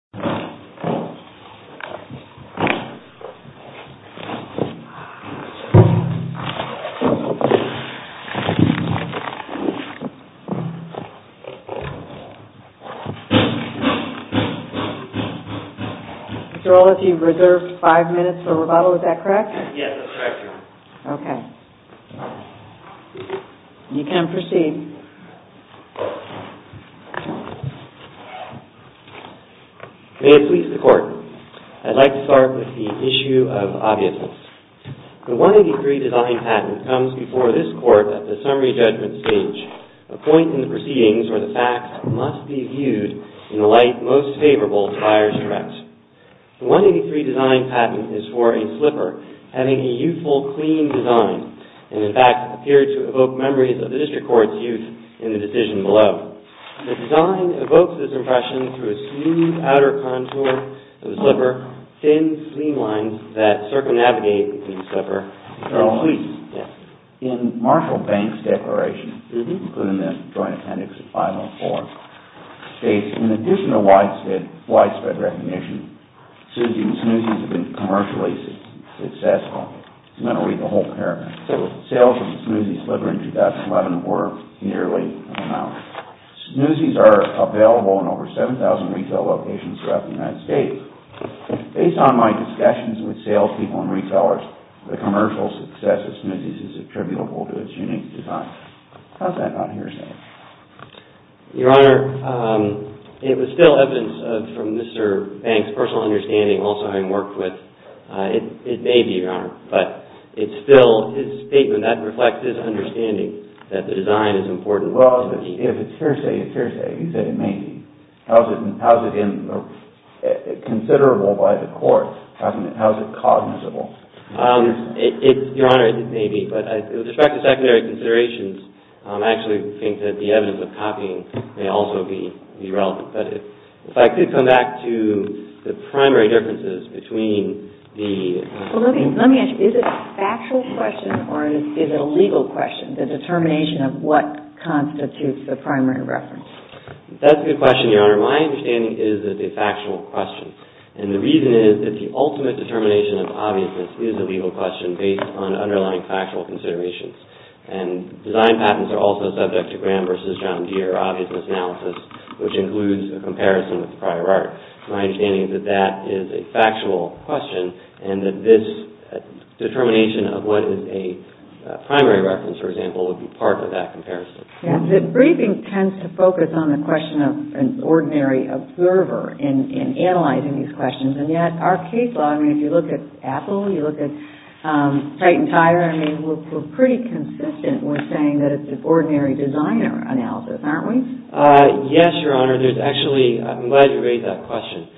BUYER'S DIRECTORATE V. BUYER'S DIRECTORATE Mr. Wallace, you've reserved five minutes for rebuttal. Is that correct? Yes, that's correct, ma'am. Okay. You can proceed. May it please the Court, I'd like to start with the issue of obviousness. The 183 design patent comes before this Court at the summary judgment stage, a point in the proceedings where the facts must be viewed in the light most favorable to Buyer's Direct. The 183 design patent is for a slipper having a youthful, clean design, and in fact appeared to evoke memories of the District Court's youth in the decision below. The design evokes this impression through a smooth outer contour of slipper, thin, clean lines that circumnavigate the slipper. In Marshall Bank's declaration, including the Joint Appendix 504, states in addition to widespread recognition, Snoozy's has been commercially successful. I'm going to read the whole paragraph. Sales of Snoozy's slipper in 2011 were nearly unknown. Snoozy's are available in over 7,000 retail locations throughout the United States. Based on my discussions with salespeople and retailers, the commercial success of Snoozy's is attributable to its unique design. How's that not hearsay? Your Honor, it was still evidence from Mr. Bank's personal understanding, also having worked with, it may be, Your Honor, but it's still his statement that reflects his understanding that the design is important. Well, if it's hearsay, it's hearsay. You said it may be. How is it considerable by the Court? How is it cognizable? Your Honor, it may be, but with respect to secondary considerations, I actually think that the evidence of copying may also be relevant. If I could come back to the primary differences between the... Let me ask you, is it a factual question or is it a legal question, the determination of what constitutes the primary reference? That's a good question, Your Honor. My understanding is that it's a factual question. And the reason is that the ultimate determination of obviousness is a legal question based on underlying factual considerations. And design patents are also subject to Graham v. John Deere obviousness analysis, which includes a comparison with prior art. My understanding is that that is a factual question and that this determination of what is a primary reference, for example, would be part of that comparison. The briefing tends to focus on the question of an ordinary observer in analyzing these questions, and yet our case law, I mean, if you look at Apple, you look at Titan Tire, I mean, we're pretty consistent with saying that it's an ordinary designer analysis, aren't we? Yes, Your Honor. There's actually... I'm glad you raised that question.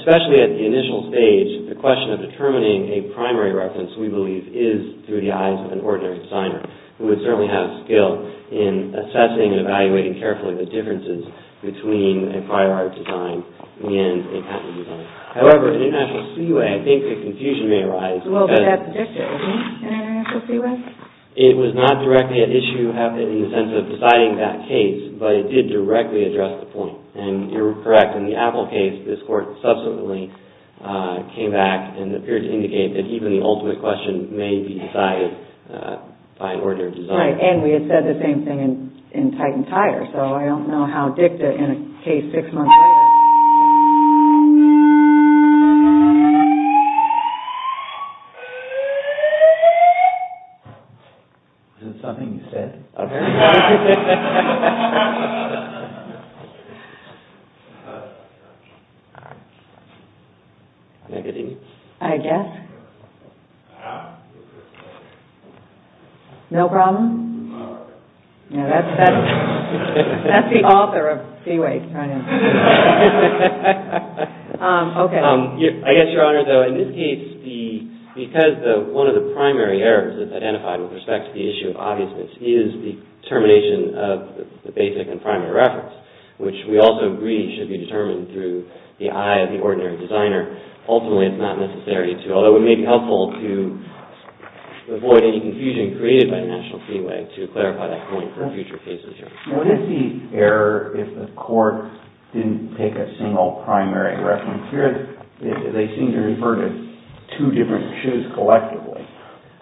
Especially at the initial stage, the question of determining a primary reference, we believe, is through the eyes of an ordinary designer, who would certainly have a skill in assessing and evaluating carefully the differences between a prior art design and a patent design. However, in International Seaway, I think the confusion may arise... Well, but that's an issue, isn't it, in International Seaway? It was not directly an issue in the sense of deciding that case, but it did directly address the point, and you're correct. In the Apple case, this court subsequently came back and appeared to indicate that even the ultimate question may be decided by an ordinary designer. Right, and we had said the same thing in Titan Tire, so I don't know how dicta in a case six months later... Is it something you said? Negative. I guess. No problem? That's the author of Seaway. Okay. I guess, Your Honor, though, in this case, because one of the primary errors that's identified with respect to the issue of obviousness is the termination of the basic and primary reference, which we also agree should be determined through the eye of the ordinary designer, ultimately it's not necessary to, although it may be helpful to avoid any confusion created by International Seaway to clarify that point for future cases, Your Honor. What is the error if the court didn't take a single primary reference here? They seem to have referred to two different shoes collectively.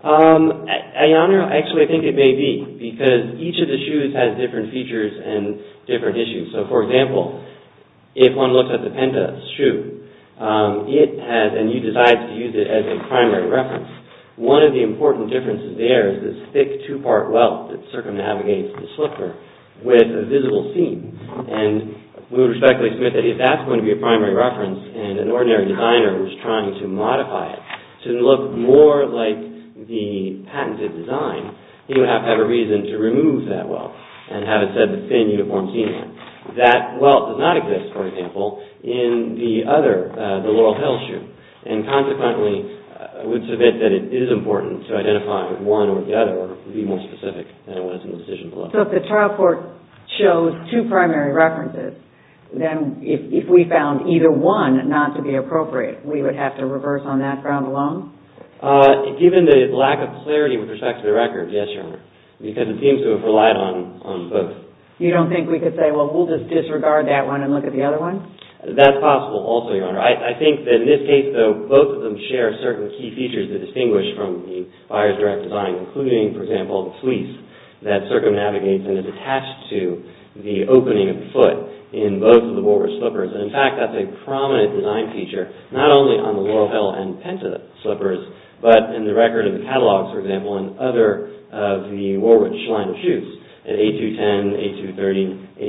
Your Honor, actually, I think it may be because each of the shoes has different features and different issues. So, for example, if one looks at the Penta's shoe, it has, and you decide to use it as a primary reference, one of the important differences there is this thick two-part welt that circumnavigates the slipper with a visible seam, and we would respectfully submit that if that's going to be a primary reference and an ordinary designer was trying to modify it to look more like the patented design, he would have to have a reason to remove that welt and have it said the thin uniform seam. That welt does not exist, for example, in the other, the Laurel Hill shoe, and consequently I would submit that it is important to identify one or the other or be more specific than it was in the decision below. So if the trial court chose two primary references, then if we found either one not to be appropriate, we would have to reverse on that ground alone? Given the lack of clarity with respect to the record, yes, Your Honor, because it seems to have relied on both. You don't think we could say, well, we'll just disregard that one and look at the other one? That's possible also, Your Honor. I think that in this case, though, both of them share certain key features that distinguish from the buyer's direct design, including, for example, the fleece that circumnavigates and is attached to the opening of the foot. So in both of the Woolwich slippers, and in fact that's a prominent design feature, not only on the Laurel Hill and Penta slippers, but in the record of the catalogs, for example, and other of the Woolwich line of shoes. At 8-210,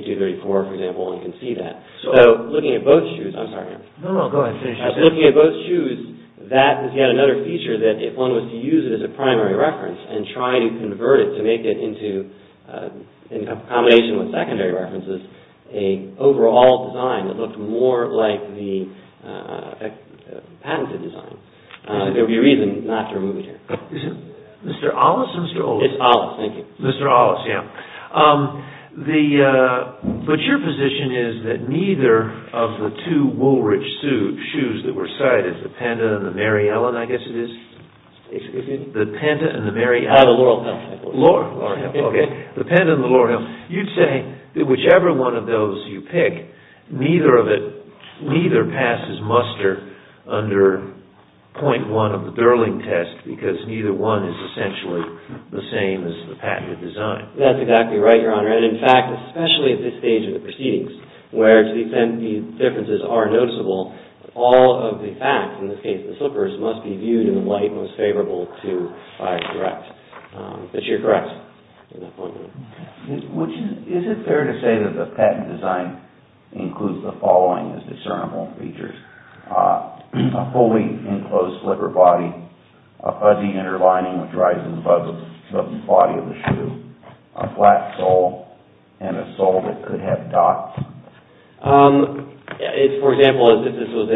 8-230, 8-234, for example, one can see that. So looking at both shoes, I'm sorry, Your Honor. No, no, go ahead. Finish your question. Looking at both shoes, that is yet another feature that if one was to use it as a primary reference and try to convert it to make it into, in combination with secondary references, a overall design that looked more like the patented design, there would be reason not to remove it here. Mr. Ollis, Mr. Ollis. It's Ollis, thank you. Mr. Ollis, yeah. But your position is that neither of the two Woolwich shoes that were cited, the Penta and the Mary Ellen, I guess it is? Excuse me? The Penta and the Mary Ellen. The Laurel Hill. Laurel Hill, okay. The Penta and the Laurel Hill. You'd say that whichever one of those you pick, neither of it, neither passes muster under 0.1 of the Burling test because neither one is essentially the same as the patented design. That's exactly right, Your Honor. And in fact, especially at this stage of the proceedings, where to the extent these differences are noticeable, all of the facts, in this case the slippers, must be viewed in the light most favorable to, if I'm correct. But you're correct. Is it fair to say that the patent design includes the following as discernible features, a fully enclosed slipper body, a fuzzy inner lining which rises above the body of the shoe, a flat sole, and a sole that could have dots? If, for example, this was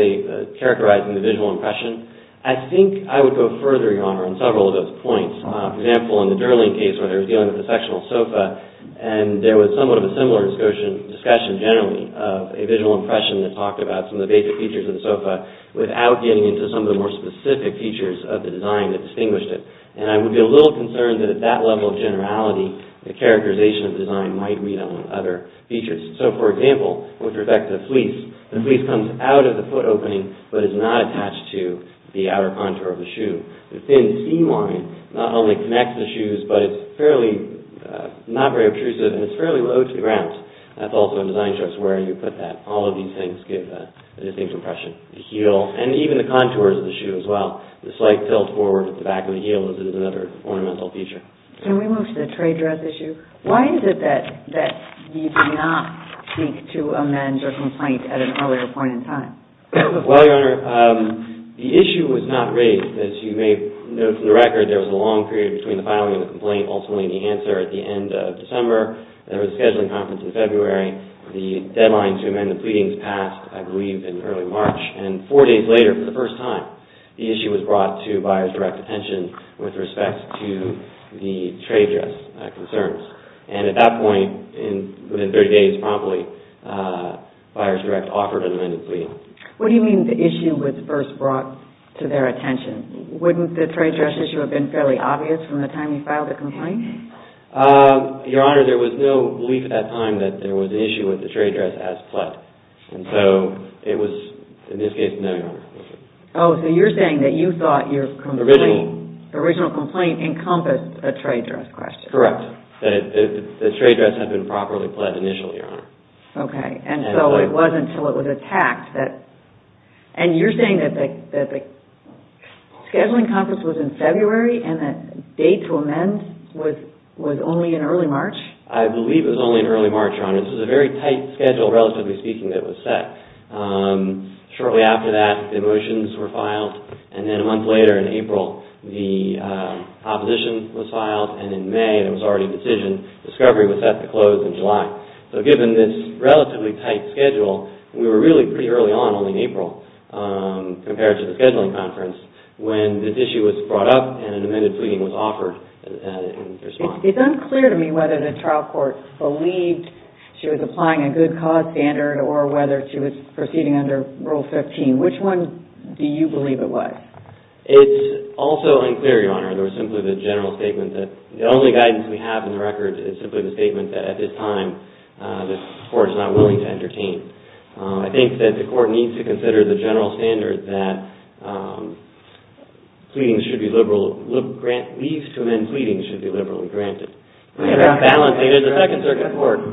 characterizing the visual impression, I think I would go further, Your Honor, on several of those points. For example, in the Burling case, where they were dealing with a sectional sofa, and there was somewhat of a similar discussion generally of a visual impression that talked about some of the basic features of the sofa without getting into some of the more specific features of the design that distinguished it. And I would be a little concerned that at that level of generality, the characterization of the design might read on other features. So, for example, with respect to the fleece, the fleece comes out of the foot opening but is not attached to the outer contour of the shoe. The thin seam line not only connects the shoes, but it's not very obtrusive, and it's fairly low to the ground. That's also a design choice where you put that. All of these things give a distinct impression. The heel, and even the contours of the shoe as well. The slight tilt forward at the back of the heel is another ornamental feature. Can we move to the tray dress issue? Why is it that you did not seek to amend your complaint at an earlier point in time? Well, Your Honor, the issue was not raised. As you may know from the record, there was a long period between the filing of the complaint and ultimately the answer at the end of December. There was a scheduling conference in February. The deadline to amend the pleadings passed, I believe, in early March. And four days later, for the first time, the issue was brought to buyer's direct attention with respect to the tray dress concerns. And at that point, within 30 days, buyer's direct offered an amended plea. What do you mean the issue was first brought to their attention? Wouldn't the tray dress issue have been fairly obvious from the time you filed the complaint? Your Honor, there was no belief at that time that there was an issue with the tray dress as pled. And so it was, in this case, no, Your Honor. Oh, so you're saying that you thought your original complaint encompassed a tray dress question. Correct. The tray dress had been properly pled initially, Your Honor. Okay, and so it wasn't until it was attacked that... And you're saying that the scheduling conference was in February and the date to amend was only in early March? I believe it was only in early March, Your Honor. This was a very tight schedule, relatively speaking, that was set. Shortly after that, the motions were filed. And then a month later, in April, the opposition was filed. And in May, it was already a decision. Discovery was set to close in July. So given this relatively tight schedule, we were really pretty early on, only in April, compared to the scheduling conference, when this issue was brought up and an amended pleading was offered in response. It's unclear to me whether the trial court believed she was applying a good cause standard or whether she was proceeding under Rule 15. Which one do you believe it was? It's also unclear, Your Honor, there was simply the general statement that the only guidance we have in the record is simply the statement that at this time, the court is not willing to entertain. I think that the court needs to consider the general standard that pleadings should be liberal... Leaves to amend pleadings should be liberally granted. There's a second circuit court.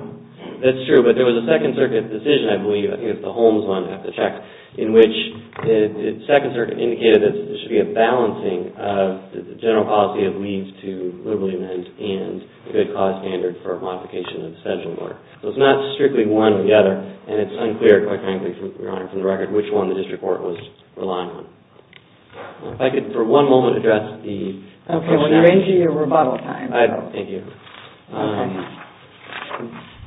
That's true, but there was a second circuit decision, I believe, I think it's the Holmes one, I have to check, in which the second circuit indicated that there should be a balancing of the general policy of leaves to liberally amend and a good cause standard for modification of the scheduling order. So it's not strictly one or the other and it's unclear, quite frankly, Your Honor, from the record which one the district court was relying on. If I could for one moment address the... Okay, we're ranging your rebuttal time. Thank you.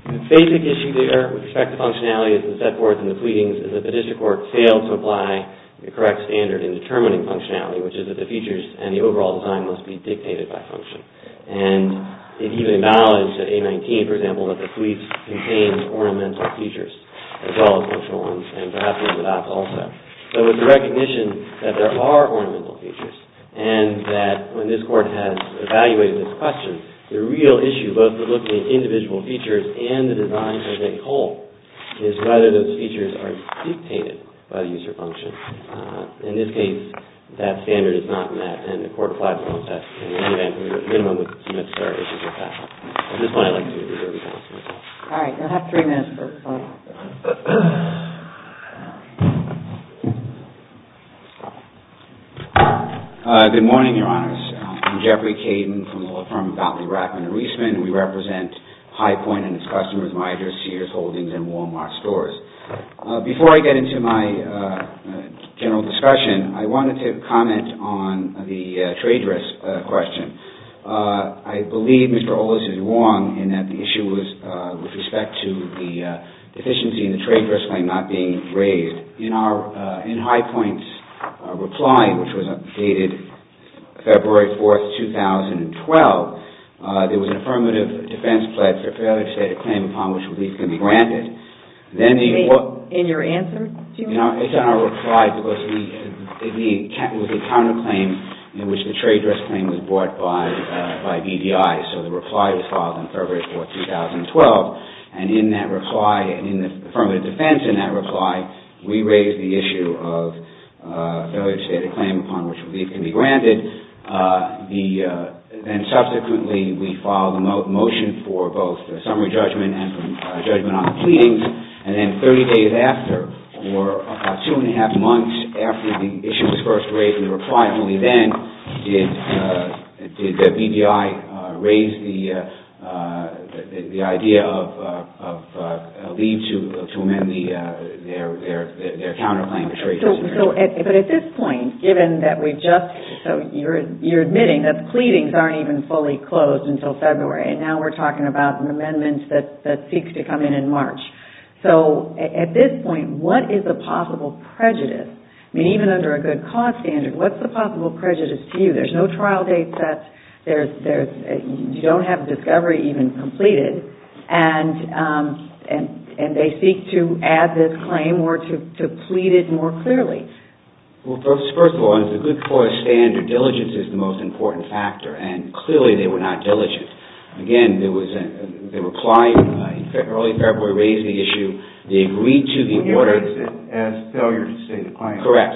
The basic issue there with respect to functionality is the set forth in the pleadings is that the district court failed to apply the correct standard in determining functionality, which is that the features and the overall design must be dictated by function. And it even validates in A-19, for example, that the fleets contain ornamental features as well as functional ones and perhaps even that also. So with the recognition that there are ornamental features and that when this court has evaluated this question, the real issue, both the look at individual features and the design as a whole, is whether those features are dictated by the user function. In this case, that standard is not met and the court applies the concept in any event where there's a minimum of some necessary issues with that. At this point, I'd like to reserve the floor to myself. All right, you'll have three minutes for questions. Good morning, Your Honors. I'm Jeffrey Caden from the law firm Batley, Rackham & Reisman. We represent High Point and its customers such as Meijer's, Sears Holdings, and Wal-Mart stores. Before I get into my general discussion, I wanted to comment on the trade risk question. I believe Mr. Holder is wrong in that the issue was with respect to the deficiency in the trade risk claim not being raised. In High Point's reply, which was updated February 4, 2012, there was an affirmative defense pledge or failure to state a claim upon which relief can be granted. In your answer? No, it's in our reply because it was a counterclaim in which the trade risk claim was brought by BDI. So the reply was filed in February 4, 2012. And in that reply, in the affirmative defense in that reply, we raised the issue of failure to state a claim upon which relief can be granted. Subsequently, we filed a motion for both a summary judgment and a judgment on the pleadings. And then 30 days after, or two and a half months after the issue was first raised in the reply, only then did BDI raise the idea of a leave to amend their counterclaim to trade risk. But at this point, given that we've just... So you're admitting that the pleadings aren't even fully closed until February. And now we're talking about an amendment that seeks to come in in March. So at this point, what is the possible prejudice? I mean, even under a good cost standard, what's the possible prejudice to you? There's no trial date set. You don't have a discovery even completed. And they seek to add this claim or to plead it more clearly. Well, first of all, as a good cost standard, diligence is the most important factor. And clearly, they were not diligent. Again, the reply in early February raised the issue. They agreed to the order... You raised it as failure to state a claim. Correct.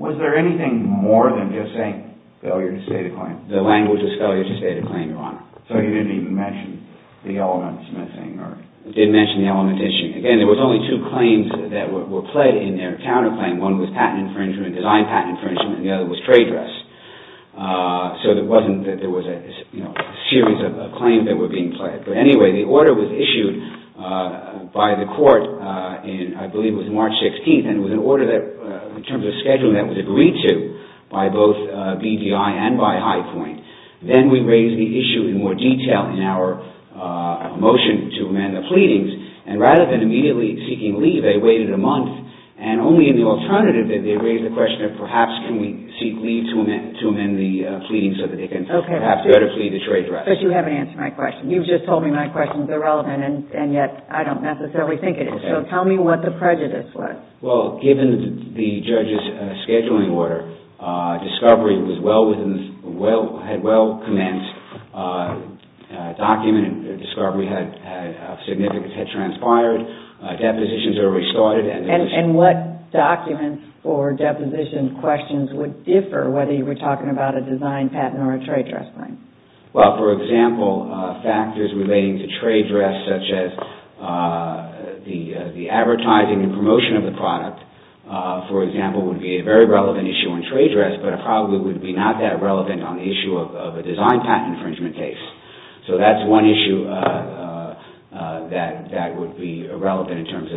Was there anything more than just saying failure to state a claim? The language is failure to state a claim, Your Honor. So you didn't even mention the elements missing or... Didn't mention the element issue. Again, there was only two claims that were pled in their counterclaim. One was patent infringement, design patent infringement, and the other was trade dress. So it wasn't that there was a series of claims that were being pled. But anyway, the order was issued by the court in, I believe, it was March 16th. And it was an order that, in terms of scheduling, that was agreed to by both BDI and by High Point. Then we raised the issue in more detail in our motion to amend the pleadings. And rather than immediately seeking leave, they waited a month. And only in the alternative did they raise the question of perhaps can we seek leave to amend the pleadings so that they can perhaps better plead the trade dress. But you haven't answered my question. You've just told me my question is irrelevant and yet I don't necessarily think it is. So tell me what the prejudice was. Well, given the judge's scheduling order, discovery had well commenced. Documented discovery had transpired. Depositions are restarted. And what documents or deposition questions would differ whether you were talking about a design patent or a trade dress claim? Well, for example, factors relating to trade dress such as the advertising and promotion of the product, for example, would be a very relevant issue on trade dress but probably would be not that relevant on the issue of a design patent infringement case. So that's one issue that would be relevant in terms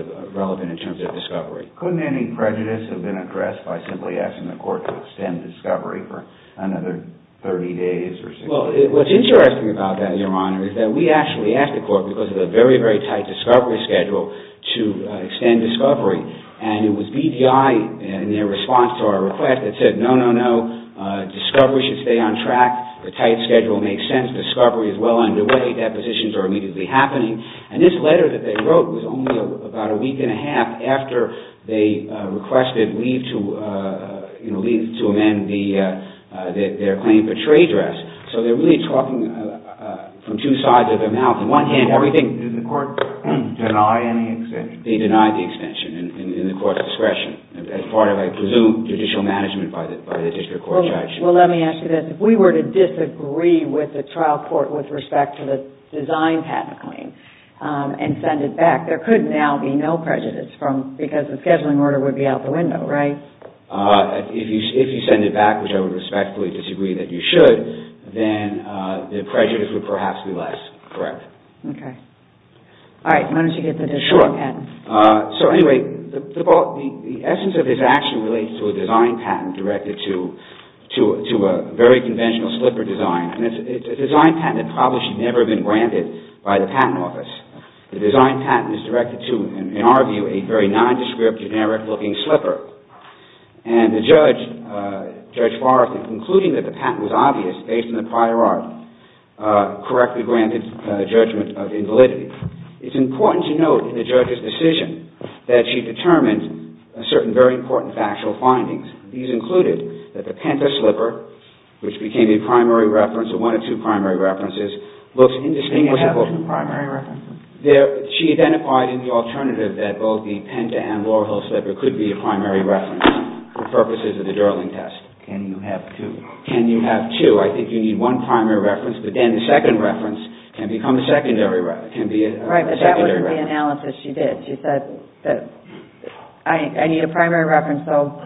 of discovery. Couldn't any prejudice have been addressed by simply asking the court to extend discovery for another 30 days or so? Well, what's interesting about that, Your Honor, is that we actually asked the court, because of the very, very tight discovery schedule, to extend discovery. And it was BDI in their response to our request that said, no, no, no. Discovery should stay on track. The tight schedule makes sense. Discovery is well underway. Depositions are immediately happening. And this letter that they wrote was only about a week and a half after they requested leave to amend their claim for trade dress. So they're really talking from two sides of their mouth. On one hand, everything... Did the court deny any extension? They denied the extension in the court's discretion as part of, I presume, judicial management by the district court judge. Well, let me ask you this. If we were to disagree with the trial court with respect to the design patent claim and send it back, there could now be no prejudice because the scheduling order would be out the window, right? If you send it back, which I would respectfully disagree that you should, then the prejudice would perhaps be less, correct. Okay. All right. Why don't you get the design patent? Sure. So anyway, the essence of this action relates to a design patent directed to a very conventional slipper design. And it's a design patent that probably should never have been granted by the patent office. The design patent is directed to, in our view, a very nondescript, generic-looking slipper. And the judge, Judge Farrakhan, concluding that the patent was obvious based on the prior art, correctly granted judgment of invalidity. It's important to note in the judge's decision that she determined certain very important factual findings. These included that the Penta slipper, which became a primary reference, or one of two primary references, looks indistinguishable. Can you have two primary references? She identified in the alternative that both the Penta and Laurel Hill slipper could be a primary reference for purposes of the Durling test. Can you have two? Can you have two? I think you need one primary reference, but then the second reference can become a secondary reference. Right, but that wasn't the analysis she did. She said, I need a primary reference, so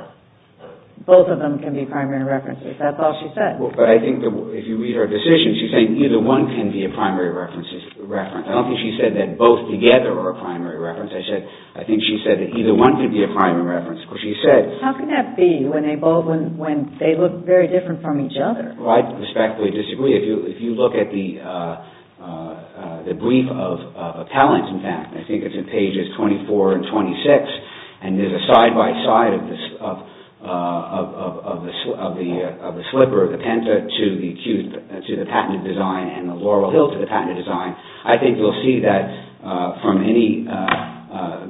both of them can be primary references. That's all she said. But I think if you read her decision, she's saying either one can be a primary reference. I don't think she said that both together are a primary reference. I think she said that either one could be a primary reference. How can that be when they look very different from each other? I respectfully disagree. If you look at the brief of appellants, in fact, I think it's in pages 24 and 26, and there's a side-by-side of the slipper, the Penta to the patented design, and the Laurel Hill to the patented design. I think you'll see that from any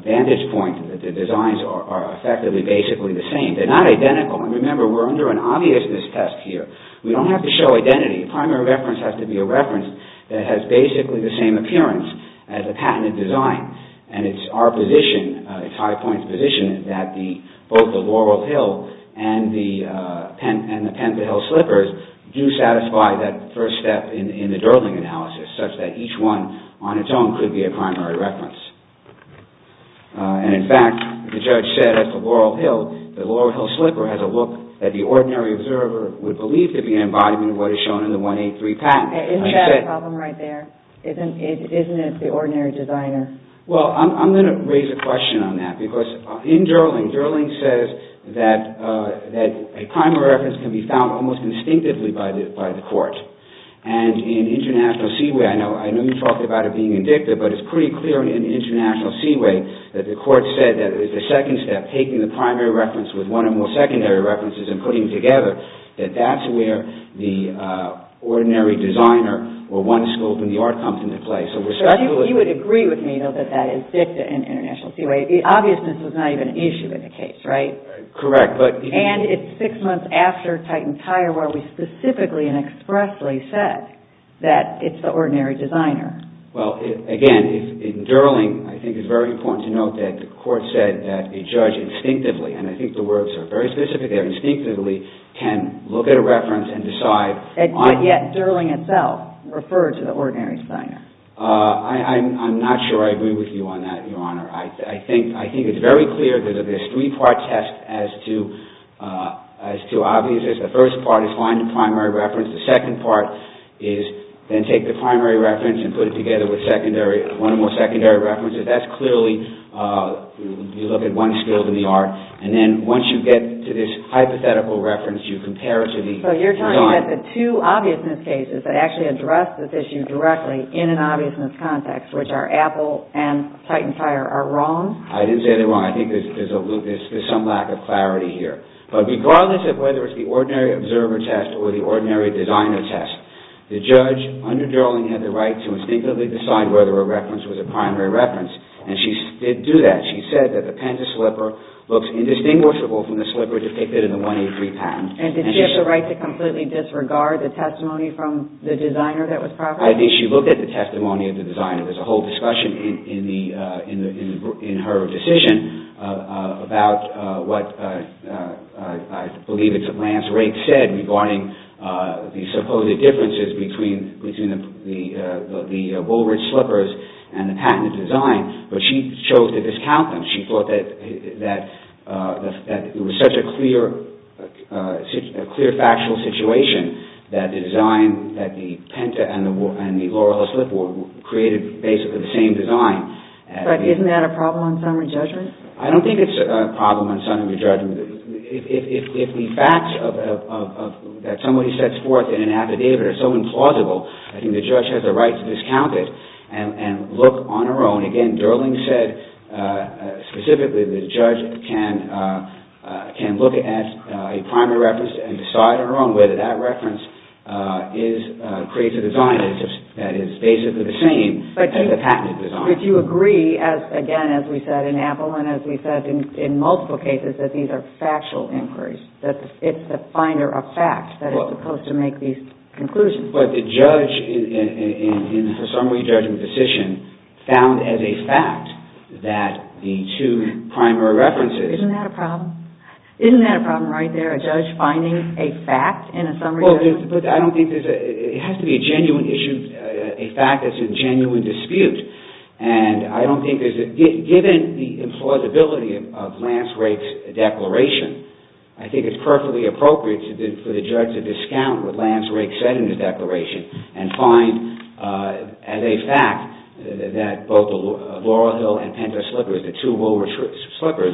vantage point that the designs are effectively basically the same. They're not identical. And remember, we're under an obviousness test here. We don't have to show identity. A primary reference has to be a reference that has basically the same appearance as a patented design. And it's our position, it's High Point's position, that both the Laurel Hill and the Penta Hill slippers do satisfy that first step in the Durling analysis, such that each one on its own could be a primary reference. And in fact, the judge said that the Laurel Hill slipper has a look that the ordinary observer would believe to be an embodiment of what is shown in the 183 patent. Isn't that a problem right there? Isn't it the ordinary designer? Well, I'm going to raise a question on that because in Durling, Durling says that a primary reference can be found almost instinctively by the court. And in International Seaway, I know you talked about it being indicative, but it's pretty clear in International Seaway that the court said that it's the second step, taking the primary reference with one or more secondary references and putting them together, that that's where the ordinary designer or one scope in the art comes into play. So you would agree with me that that is dicta in International Seaway. The obviousness was not even an issue in the case, right? Correct. And it's six months after Titan Tire where we specifically and expressly said that it's the ordinary designer. Well, again, in Durling, I think it's very important to note that the court said that a judge instinctively, and I think the words are very specific there, instinctively can look at a reference and decide. And yet Durling itself referred to the ordinary designer. I'm not sure I agree with you on that, Your Honor. I think it's very clear that there's three-part test as to obviousness. The first part is find the primary reference. The second part is then take the primary reference and put it together with one or more secondary references. That's clearly, you look at one scope in the art. And then once you get to this hypothetical reference, you compare it to the design. So you're telling me that the two obviousness cases that actually address this issue directly in an obviousness context, which are Apple and Titan Fire, are wrong? I didn't say they're wrong. I think there's a little, there's some lack of clarity here. But regardless of whether it's the ordinary observer test or the ordinary designer test, the judge, under Durling, had the right to instinctively decide whether a reference was a primary reference. And she did do that. She said that the panda slipper looks indistinguishable from the slipper depicted in the 183 patent. And did she have the right to completely disregard the testimony from the designer that was proper? I think she looked at the testimony of the designer. There's a whole discussion in her decision about what I believe it's Lance Rake said regarding the supposed differences between the Woolridge slippers and the patented design. But she chose to discount them. She thought that it was such a clear factual situation that the design that the penta and the and the created basically the same design. But isn't that a problem on summary judgment? I don't think it's a problem on summary judgment. If the facts that somebody sets forth in an affidavit are so implausible, I think the judge has the right to discount it and look on her own. Again, Durling said specifically the judge can look at a primary reference and decide on her own whether that reference creates a design that is basically the same as a patented design. But you agree again as we said in Appel and as we said in multiple cases that these are factual inquiries. It's the finder of facts that is supposed to make these conclusions. But the judge in her summary judgment decision found as a fact that the two primary references Isn't that a problem? Isn't that a problem right there? A judge finding a fact in a summary judgment? I don't think it has to be a genuine issue a fact that's a genuine dispute. And I don't think there's a given the implausibility of Lance Rake's declaration I think it's perfectly appropriate for the judge to discount what Lance Rake said in the declaration and find as a fact that both Laurel Hill and Penta Slippers the two Woolworths Slippers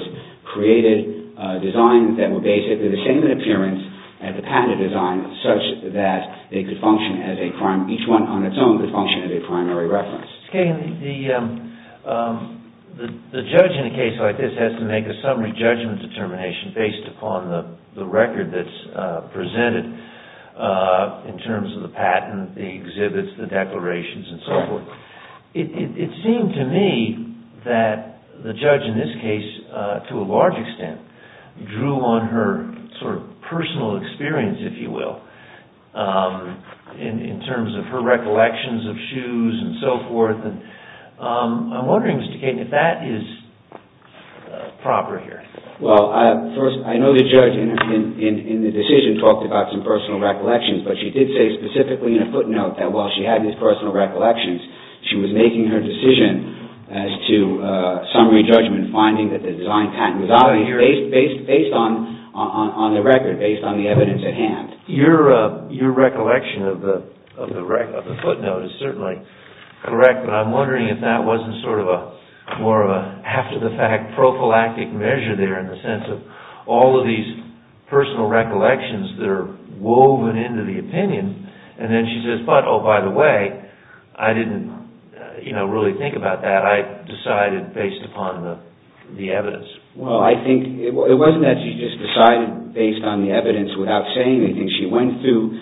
created designs that were basically the same in appearance as the patented design such that they could function as a each one on its own could function as a primary reference. The judge in a case like this has to make a summary judgment determination based upon the record that's presented in terms of the patent the exhibits the declarations and so forth. It seemed to me that the judge in this case to a large extent drew on her sort of personal experience if you will in terms of her recollections of shoes and so forth. I'm wondering Mr. Keating if that is proper here. Well first I know the judge in the decision talked about some personal recollections but she did say specifically in a footnote that while she had these personal recollections she was making her decision as to summary judgment finding that the design patent was based on the record based on the evidence at hand. Your recollection of the footnote is certainly correct but I'm wondering if that wasn't sort of more of a half to the fact prophylactic measure there in the sense of all of these personal recollections that are woven into the opinion and then she says oh by the way I didn't really think about that I decided based upon the evidence. Well I think it wasn't that she just decided based on the evidence without saying anything she went through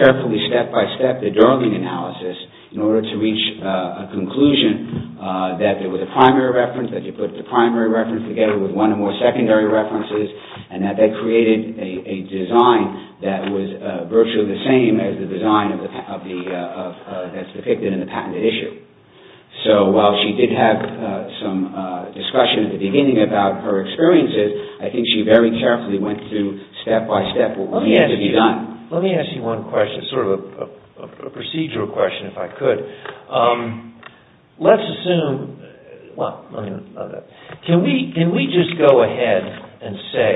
carefully step-by-step the drug analysis in order to reach a conclusion that there was a primary reference that you put the primary reference together with one or more secondary references and that they created a design that was virtually the same as the design that's depicted in the patented issue. So while she did have some discussion at the beginning about her experiences I think she very carefully went through step-by-step what needed to be done. Let me ask you one question sort of a procedural question if I could. Let's assume well can we just go ahead and say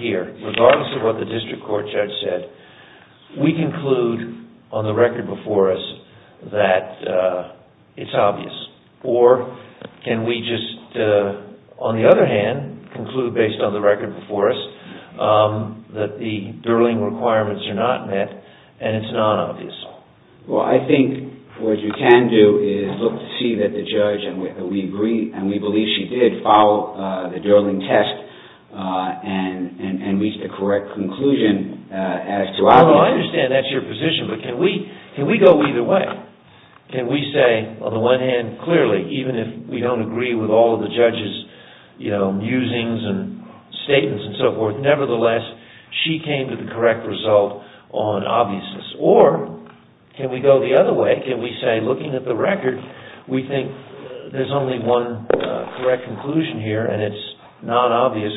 here regardless of what the evidence is can we conclude on the record before us that it's obvious or can we just on the other hand conclude based on the record before us that the Durling requirements are not met and it's not obvious. Well I think what you can do is look at the record and see that the judge and we believe she did follow the Durling test and reach the correct conclusion as to obvious. Well I understand that's your position but can we go either way? Can we say on the one hand clearly even if we don't agree with all the judges musings and statements and so forth nevertheless she came to the correct result on obviousness or can we go the other way can we say looking at the record we think there's only one correct conclusion here and it's not that we don't agree with musings and so forth here and it's not that we don't agree with all the judges musings and so forth and we think that's the correct resolution and we think the design issue is obvious based on the prior identified record and discussed by the judge and her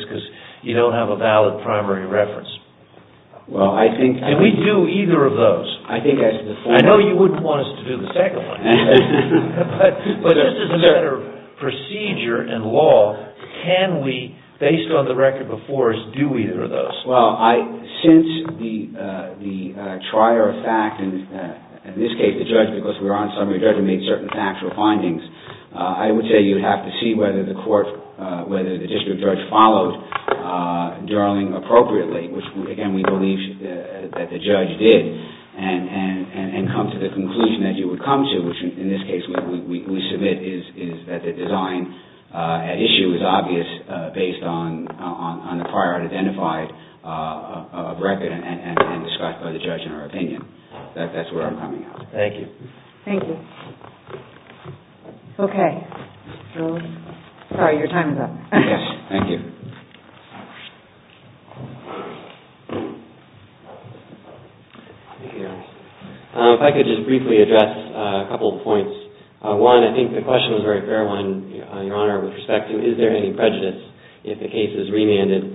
opinion. That's where I'm coming from. Thank you. Thank you. Okay. You're time is up. Yes. Thank you. Here. If I could just briefly address a couple of points. One, I think the question is very fair with respect to is there any prejudice if the case is remanded.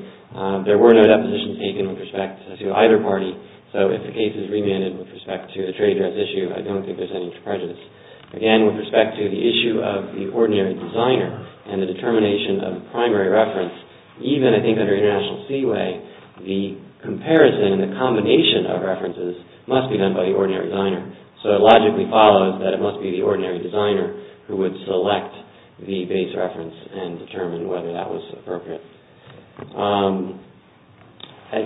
Again, with respect to the issue of the ordinary designer and the determination of the primary reference, even I think under international seaway, the comparison and combination of references must be done by the ordinary designer. So it logically follows that it must be the ordinary designer who would select the base reference and determine whether that was appropriate. I think a reference made by the ordinary designer. I don't have any further questions. Thank you.